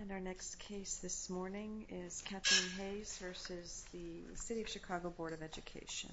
And our next case this morning is Kathleen Hayes versus the City of Chicago Board of Education.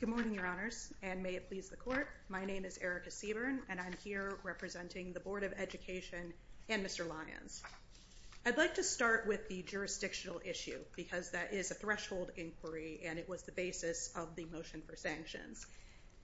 Good morning your honors and may it please the court. My name is Erica Seaburn and I'm here representing the Board of Education and Mr. Lyons. I'd like to start with the jurisdictional issue because that is a threshold inquiry and it was the basis of the motion for sanctions.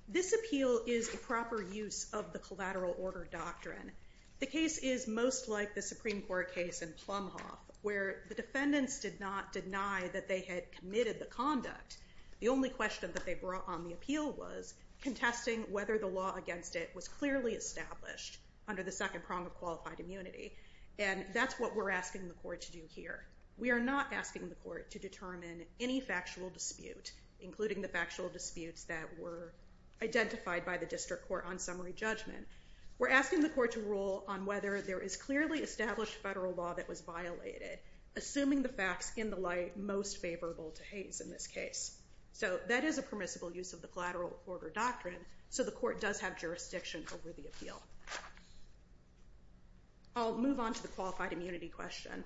This appeal is the proper use of the collateral order doctrine. The case is most like the Supreme Court case in Plumhoff where the defendants did not deny that they had committed the conduct. The only question that they brought on the appeal was contesting whether the law against it was clearly established under the second prong of qualified immunity and that's what we're asking the court to do here. We are not asking the court to determine any factual dispute including the factual disputes that were identified by the district court on summary judgment. We're asking the court to rule on whether there is clearly established federal law that was violated assuming the facts in the light most favorable to Hayes in this case. So that is a permissible use of the collateral order doctrine so the court does have jurisdiction over the appeal. I'll move on to the qualified immunity question.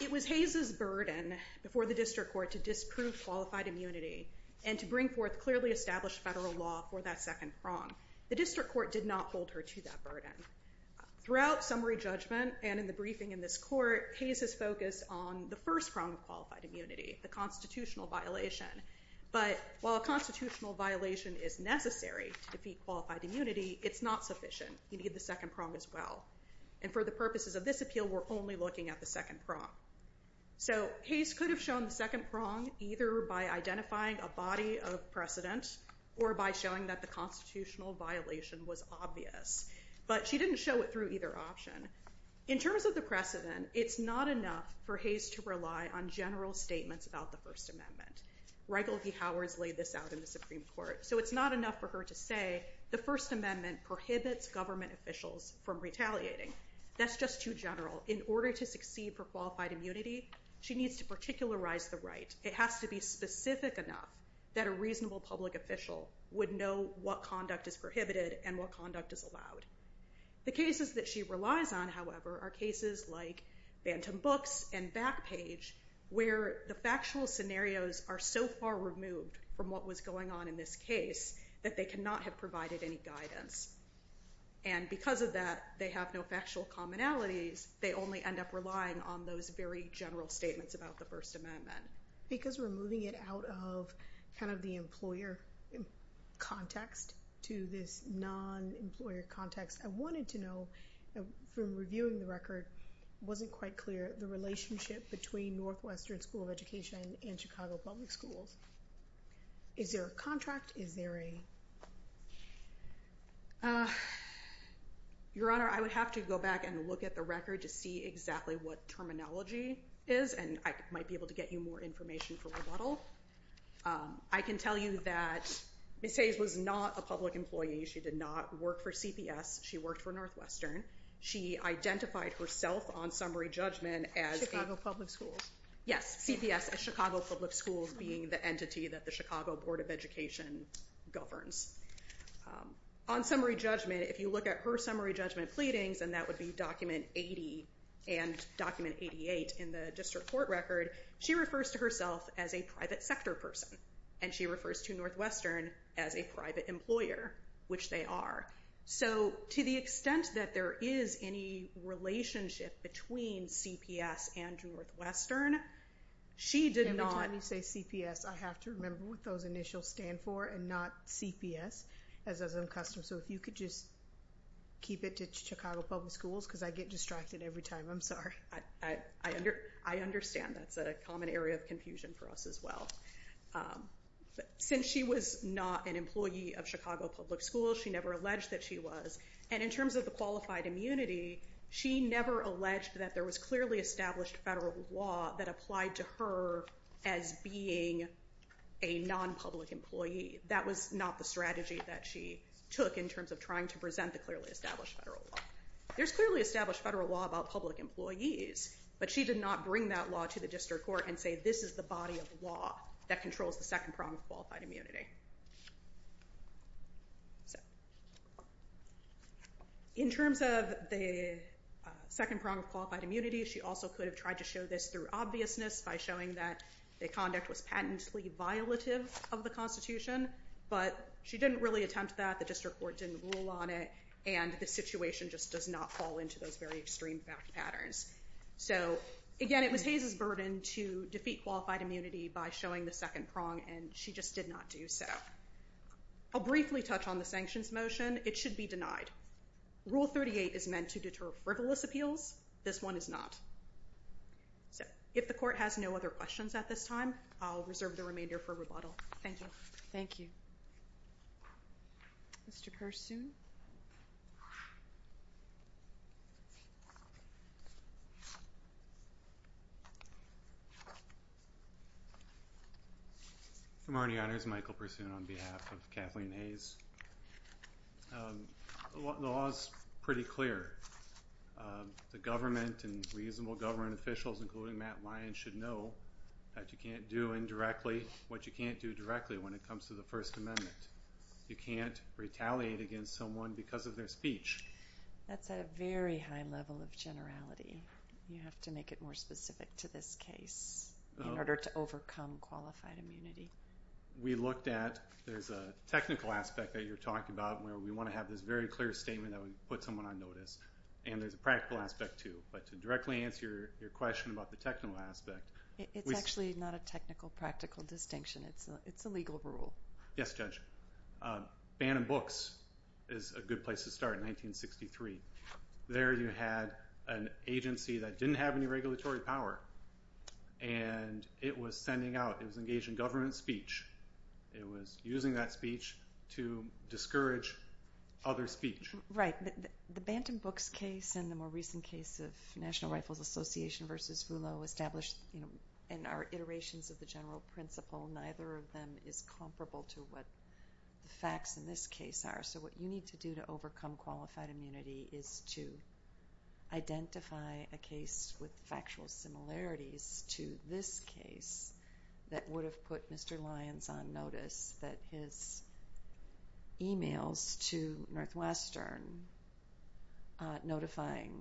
It was Hayes's burden before the district court to disprove qualified immunity and to bring forth clearly established federal law for that second prong. The district court did not hold her to that burden. Throughout summary judgment and in the briefing in this court, Hayes has focused on the first prong of qualified immunity, the constitutional violation. But while a constitutional violation is necessary to defeat qualified immunity, it's not sufficient. You need the second prong as well and for the purposes of this appeal we're only looking at the second prong. So Hayes could have shown the second prong either by identifying a body of precedent or by showing that the constitutional violation was obvious. But she didn't show it through either option. In terms of the precedent, it's not enough for Hayes to rely on general statements about the First Amendment. Reigel v. Howard's laid this out in the Supreme Court. So it's not enough for her to say the First Amendment prohibits government officials from retaliating. That's just too general. In order to succeed for qualified immunity, she needs to particularize the right. It has to be specific enough that a reasonable public official would know what conduct is prohibited and what conduct is allowed. The cases that she relies on, however, are cases like Bantam Books and Backpage where the factual scenarios are so far removed from what was going on in this case that they cannot have provided any guidance. And because of that, they have no factual commonalities. They only end up relying on those very general statements about the First Amendment. Because we're moving it out of kind of the employer context to this non-employer context, I wanted to know, from reviewing the record, wasn't quite clear the relationship between Northwestern School of Education and Chicago Public Schools. Is there a contract? Is there a... Your Honor, I would have to go back and look at the record to see exactly what terminology is, and I might be able to get you more information for rebuttal. I can tell you that Ms. Hayes was not a public employee. She did not work for CPS. She worked for Northwestern. She identified herself on summary judgment as... Chicago Public Schools. Yes, CPS, as Chicago Public Schools being the entity that the Chicago Board of Education governs. On summary judgment, if you look at her summary judgment pleadings, and that would be document 80 and document 88 in the district court record, she refers to herself as a private sector person. And she refers to Northwestern as a private employer, which they are. So to the extent that there is any relationship between CPS and Northwestern, she did not... Every time you say CPS, I have to remember what those initials stand for and not CPS, as is custom. So if you could just keep it to Chicago Public Schools, because I get distracted every time. I'm sorry. I understand. That's a common area of confusion for us as well. Since she was not an employee of Chicago Public Schools, she never alleged that she was. And in terms of the qualified immunity, she never alleged that there was clearly established federal law that applied to her as being a non-public employee. That was not the strategy that she took in terms of trying to present the clearly established federal law. There's clearly established federal law about public employees, but she did not bring that law to the district court and say this is the body of law that controls the second prong of qualified immunity. In terms of the second prong of qualified immunity, she also could have tried to show this through obviousness by showing that the conduct was patently violative of the Constitution, but she didn't really attempt that. The district court didn't rule on it, and the situation just does not fall into those very extreme fact patterns. So again, it was Hayes's burden to defeat qualified immunity by showing the second prong, and she just did not do so. I'll briefly touch on the sanctions motion. It should be denied. Rule 38 is meant to deter frivolous appeals. This one is not. So if the court has no other questions at this time, I'll reserve the remainder for rebuttal. Thank you. Thank you. Mr. Pursoon. Good morning, Your Honors. Michael Pursoon on behalf of Kathleen Hayes. The law is pretty clear. The government and reasonable government officials, including Matt Lyons, should know that you can't do indirectly what you can't do directly when it comes to the First Amendment. You can't retaliate against someone because of their speech. That's at a very high level of generality. You have to make it more specific to this case in order to overcome qualified immunity. We looked at, there's a technical aspect that you're talking about where we want to have this very clear statement that would put someone on notice, and there's a practical aspect too, but to directly answer your question about the technical aspect. It's actually not a technical, practical distinction. It's a legal rule. Yes, Judge. Bantam Books is a good place to start in 1963. There you had an agency that didn't have any regulatory power, and it was sending out, it was engaging government speech. It was using that speech to discourage other speech. Right. The Bantam Books case and the more recent case of National Rifles Association versus Voolo established in our iterations of the general principle, neither of them is comparable to what the facts in this case are. So what you need to do to overcome qualified immunity is to identify a case with factual similarities to this case that would have put Mr. Lyons on notice that his emails to Northwestern notifying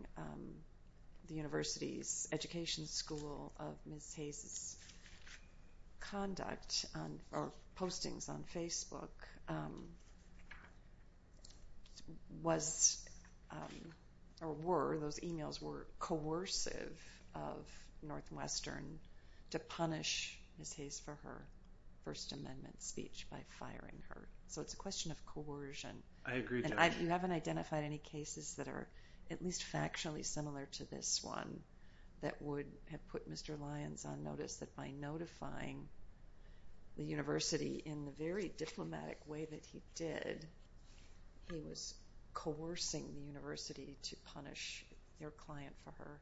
the university's education school of Ms. Hayes' conduct or postings on Facebook was or were, those emails were coercive of Northwestern to punish Ms. Hayes for her First Amendment speech by firing her. So it's a question of coercion. I agree. You haven't identified any cases that are at least factually similar to this one that would have put Mr. Lyons on notice that by notifying the university in the very diplomatic way that he did, he was coercing the university to punish their client for her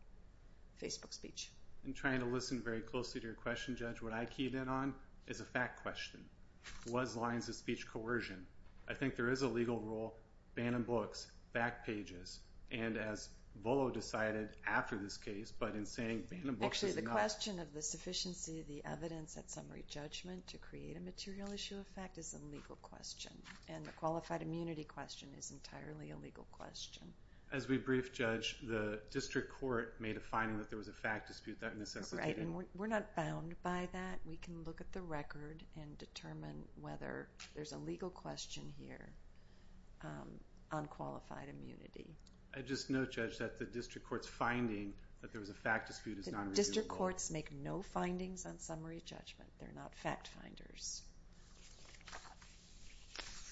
Facebook speech. I'm trying to listen very closely to your key then on is a fact question. Was Lyons' speech coercion? I think there is a legal rule, ban on books, back pages, and as Voolo decided after this case but in saying... Actually the question of the sufficiency of the evidence at summary judgment to create a material issue of fact is a legal question and the qualified immunity question is entirely a legal question. As we brief judge, the district court made a finding that there was a fact dispute that Right, and we're not bound by that. We can look at the record and determine whether there's a legal question here on qualified immunity. I just note judge that the district courts finding that there was a fact dispute is not... District courts make no findings on summary judgment. They're not fact finders.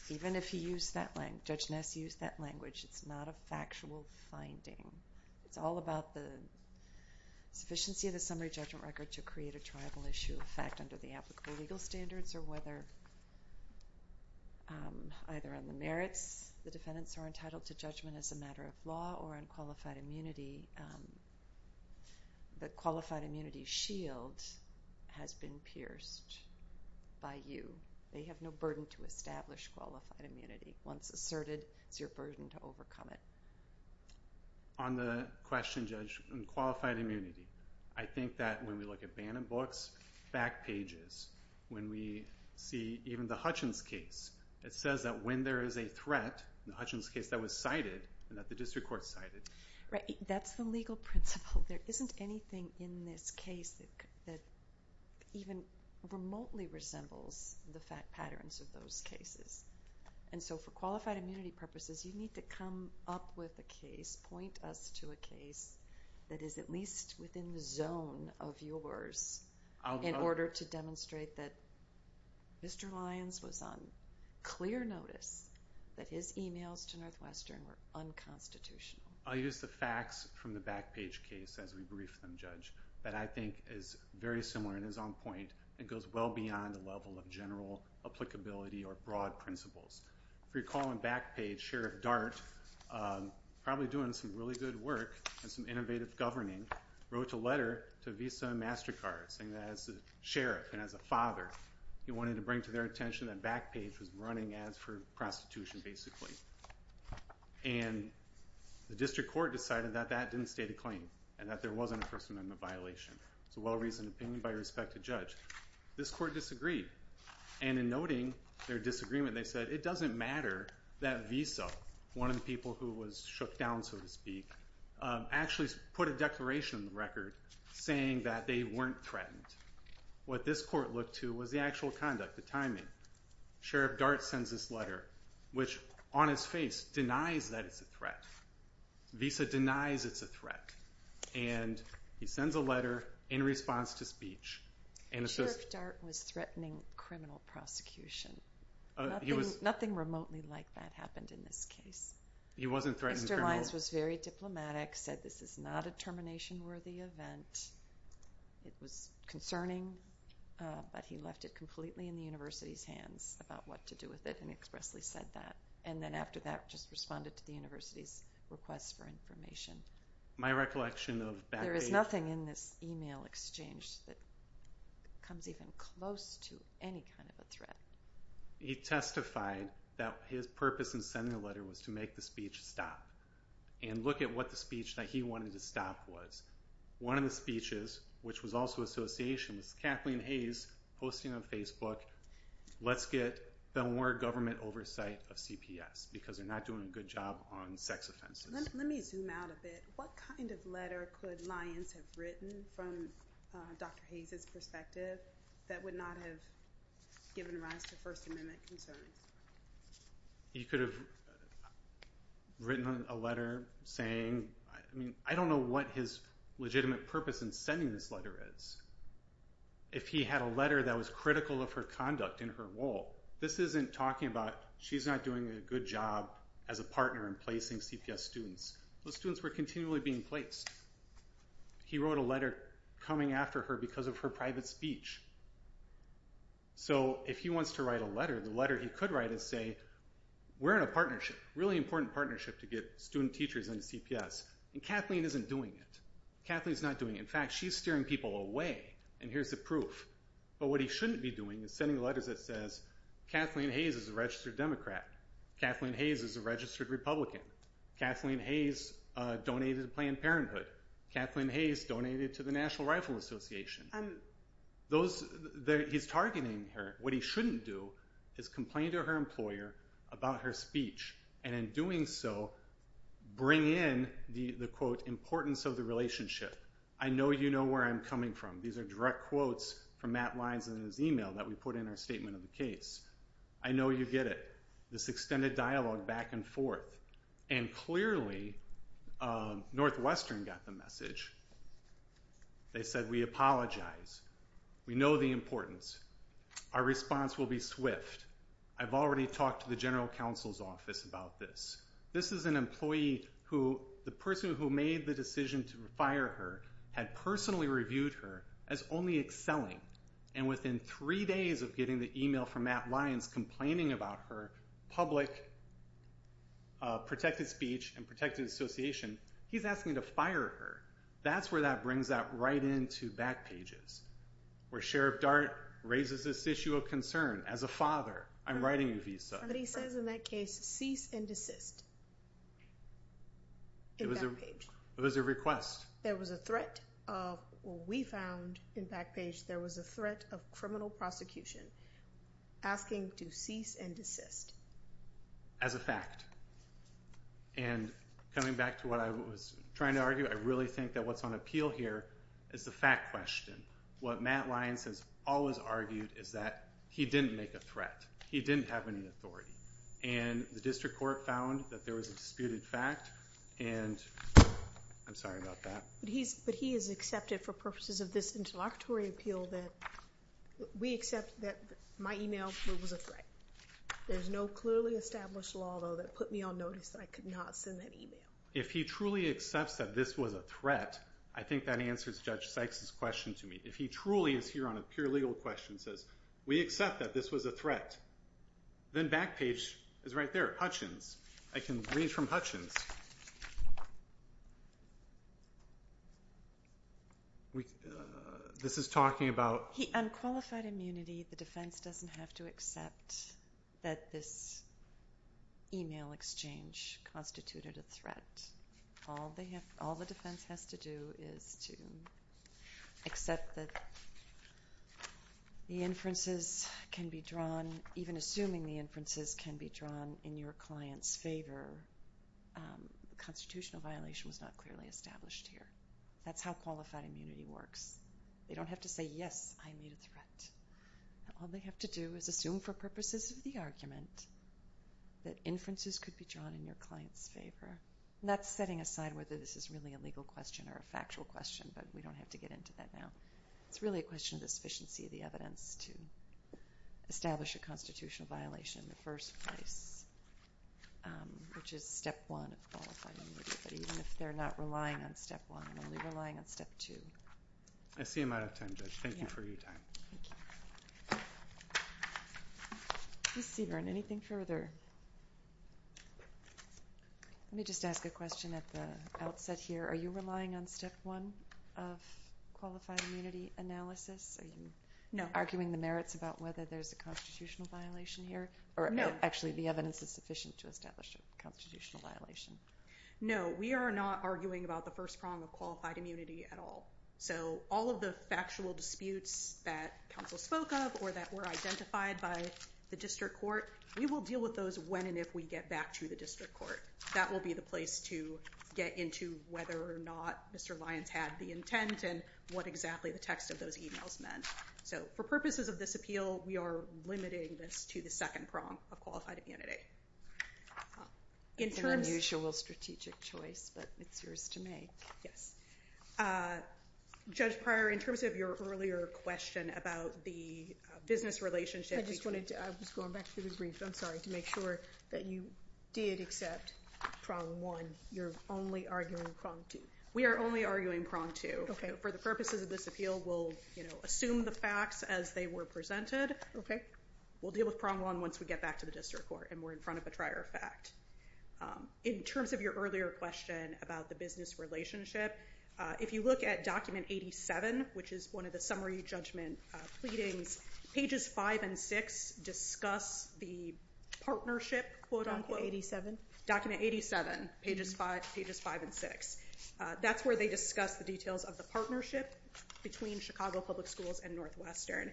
Even if you use that language, Judge Ness used that language, it's not a factual finding. It's all about the sufficiency of the summary judgment record to create a tribal issue of fact under the applicable legal standards or whether either on the merits the defendants are entitled to judgment as a matter of law or on qualified immunity. The qualified immunity shield has been pierced by you. They have no burden to establish qualified immunity. Once asserted, it's your burden to overcome it. On the question, Judge, on qualified immunity, I think that when we look at Bannon books, fact pages, when we see even the Hutchins case, it says that when there is a threat, the Hutchins case that was cited and that the district court cited. Right, that's the legal principle. There isn't anything in this case that even remotely resembles the fact patterns of those cases. And so for qualified immunity purposes, you need to come up with a case, point us to a case that is at least within the zone of yours in order to demonstrate that Mr. Lyons was on clear notice that his emails to Northwestern were unconstitutional. I'll use the facts from the back page case as we brief them, Judge, that I think is very similar and is on point. It goes well beyond the general applicability or broad principles. If you recall in back page, Sheriff Dart, probably doing some really good work and some innovative governing, wrote a letter to Visa and MasterCard saying that as a sheriff and as a father, he wanted to bring to their attention that back page was running ads for prostitution basically. And the district court decided that that didn't state a claim and that there wasn't a first amendment violation. It's a well-reasoned opinion by respect to judge. This court disagreed and in noting their disagreement, they said it doesn't matter that Visa, one of the people who was shook down so to speak, actually put a declaration on the record saying that they weren't threatened. What this court looked to was the actual conduct, the timing. Sheriff Dart sends this letter which on his face denies that it's a threat. Visa denies it's a threat. And he sends a letter in response to speech. Sheriff Dart was threatening criminal prosecution. Nothing remotely like that happened in this case. He wasn't threatening criminal. Mr. Lyons was very diplomatic, said this is not a termination worthy event. It was concerning, but he left it completely in the university's hands about what to do with it and expressly said that. And then after that just responded to the university's request for information. My recollection of that... There is nothing in this email exchange that comes even close to any kind of a threat. He testified that his purpose in sending the letter was to make the speech stop and look at what the speech that he wanted to stop was. One of the speeches, which was also association, was Kathleen Hayes posting on Facebook, let's get the more government oversight of CPS because they're not doing a good job on sex offenses. Let me zoom out a bit. What kind of letter could Lyons have written from Dr. Hayes' perspective that would not have given rise to First Amendment concerns? He could have written a letter saying, I mean I don't know what his legitimate purpose in sending this letter is. If he had a letter that was critical of her conduct in her role. This isn't talking about she's not doing a good job as a partner in placing CPS students. Those students were continually being placed. He wrote a letter coming after her because of her private speech. So if he wants to write a letter, the letter he could write is say, we're in a partnership, really important partnership to get student teachers into CPS. And Kathleen isn't doing it. Kathleen's not doing it. In fact, she's steering people away. And here's the proof. But what he shouldn't be doing is sending letters that says, Kathleen Hayes is a registered Democrat. Kathleen Hayes is a registered Republican. Kathleen Hayes donated to Planned Parenthood. Kathleen Hayes donated to the National Rifle Association. He's targeting her. What he shouldn't do is complain to her employer about her speech. And in doing so, bring in the quote, importance of the relationship. I know you know where I'm coming from. These are direct quotes from Matt Lines in his email that we put in our statement of the case. I know you get it. This extended dialogue back and forth. And clearly, Northwestern got the message. They said, we apologize. We know the importance. Our response will be swift. I've already talked to the General Counsel's Office about this. This is an employee who, the person who made the decision to fire her, had personally reviewed her as only excelling. And within three days of getting the email from Matt Lines complaining about her public protected speech and protected association, he's asking to fire her. That's where that brings that right in to back pages, where Sheriff Dart raises this issue of concern. As a father, I'm writing a visa. Somebody says in that case, cease and desist. It was a request. There was a threat of, we found in back page, there was a threat of criminal prosecution. Asking to cease and desist. As a fact. And coming back to what I was trying to argue, I really think that what's on appeal here is the fact question. What Matt Lines has always argued is that he didn't make a threat. He didn't have any authority. And the district court found that there was a threat. But he has accepted for purposes of this interlocutory appeal that we accept that my email was a threat. There's no clearly established law, though, that put me on notice that I could not send that email. If he truly accepts that this was a threat, I think that answers Judge Sykes' question to me. If he truly is here on a pure legal question, says we accept that this was a threat. This is talking about... Unqualified immunity, the defense doesn't have to accept that this email exchange constituted a threat. All the defense has to do is to accept that the inferences can be drawn, even assuming the inferences can be drawn in your client's favor. Constitutional violation was not clearly established here. That's how qualified immunity works. They don't have to say, yes, I made a threat. All they have to do is assume for purposes of the argument that inferences could be drawn in your client's favor. That's setting aside whether this is really a legal question or a factual question, but we don't have to get into that now. It's really a question of the sufficiency of the evidence to establish a constitutional violation in the first place, which is step one of qualified immunity. But even if they're not relying on step one, they're relying on step two. I see I'm out of time, Judge. Thank you for your time. Ms. Seaborn, anything further? Let me just ask a question at the outset here. Are you relying on step one of qualified immunity analysis? Are you arguing the merits about whether there's a constitutional violation here? No. Actually, the evidence is sufficient to establish a constitutional violation. No, we are not arguing about the first prong of qualified immunity at all. So all of the factual disputes that counsel spoke of or that were identified by the district court, we will deal with those when and if we get back to the district court. That will be the place to get into whether or not Mr. Lyons had the intent and what exactly the text of those emails meant. So for purposes of this appeal, we are limiting this to the second prong of qualified immunity. It's an unusual strategic choice, but it's yours to make. Yes. Judge Pryor, in terms of your earlier question about the business relationship... I just wanted to, I was going back to the brief, I'm sorry, to make sure that you did accept prong one. You're only arguing prong two. We are only arguing prong two. Okay. For the purposes of this appeal, we'll, you know, assume the facts as they were presented. Okay. We'll deal with prong one once we get back to the district court and we're in front of a trier of fact. In terms of your earlier question about the business relationship, if you look at document 87, which is one of the summary judgment pleadings, pages 5 and 6 discuss the partnership, quote-unquote. Document 87? Document 87, pages 5 and 6. That's where they discuss the details of the partnership between Chicago Public Schools and Northwestern.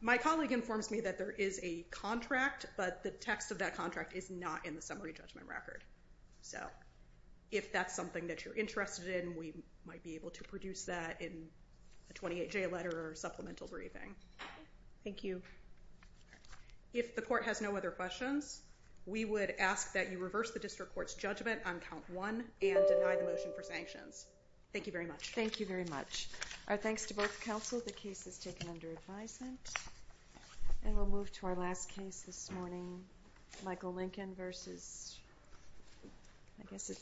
My colleague informs me that there is a contract, but the text of that contract is not in the summary judgment record. So if that's something that you're interested in, we might be able to produce that in a 28-J letter or supplemental briefing. Thank you. If the court has no other questions, we would ask that you reverse the district court's judgment on count one and deny the motion for sanctions. Thank you very much. Thank you very much. Our thanks to both counsel. The case is taken under advisement. And we'll move to our last case this morning. Michael Lincoln versus, I guess it's...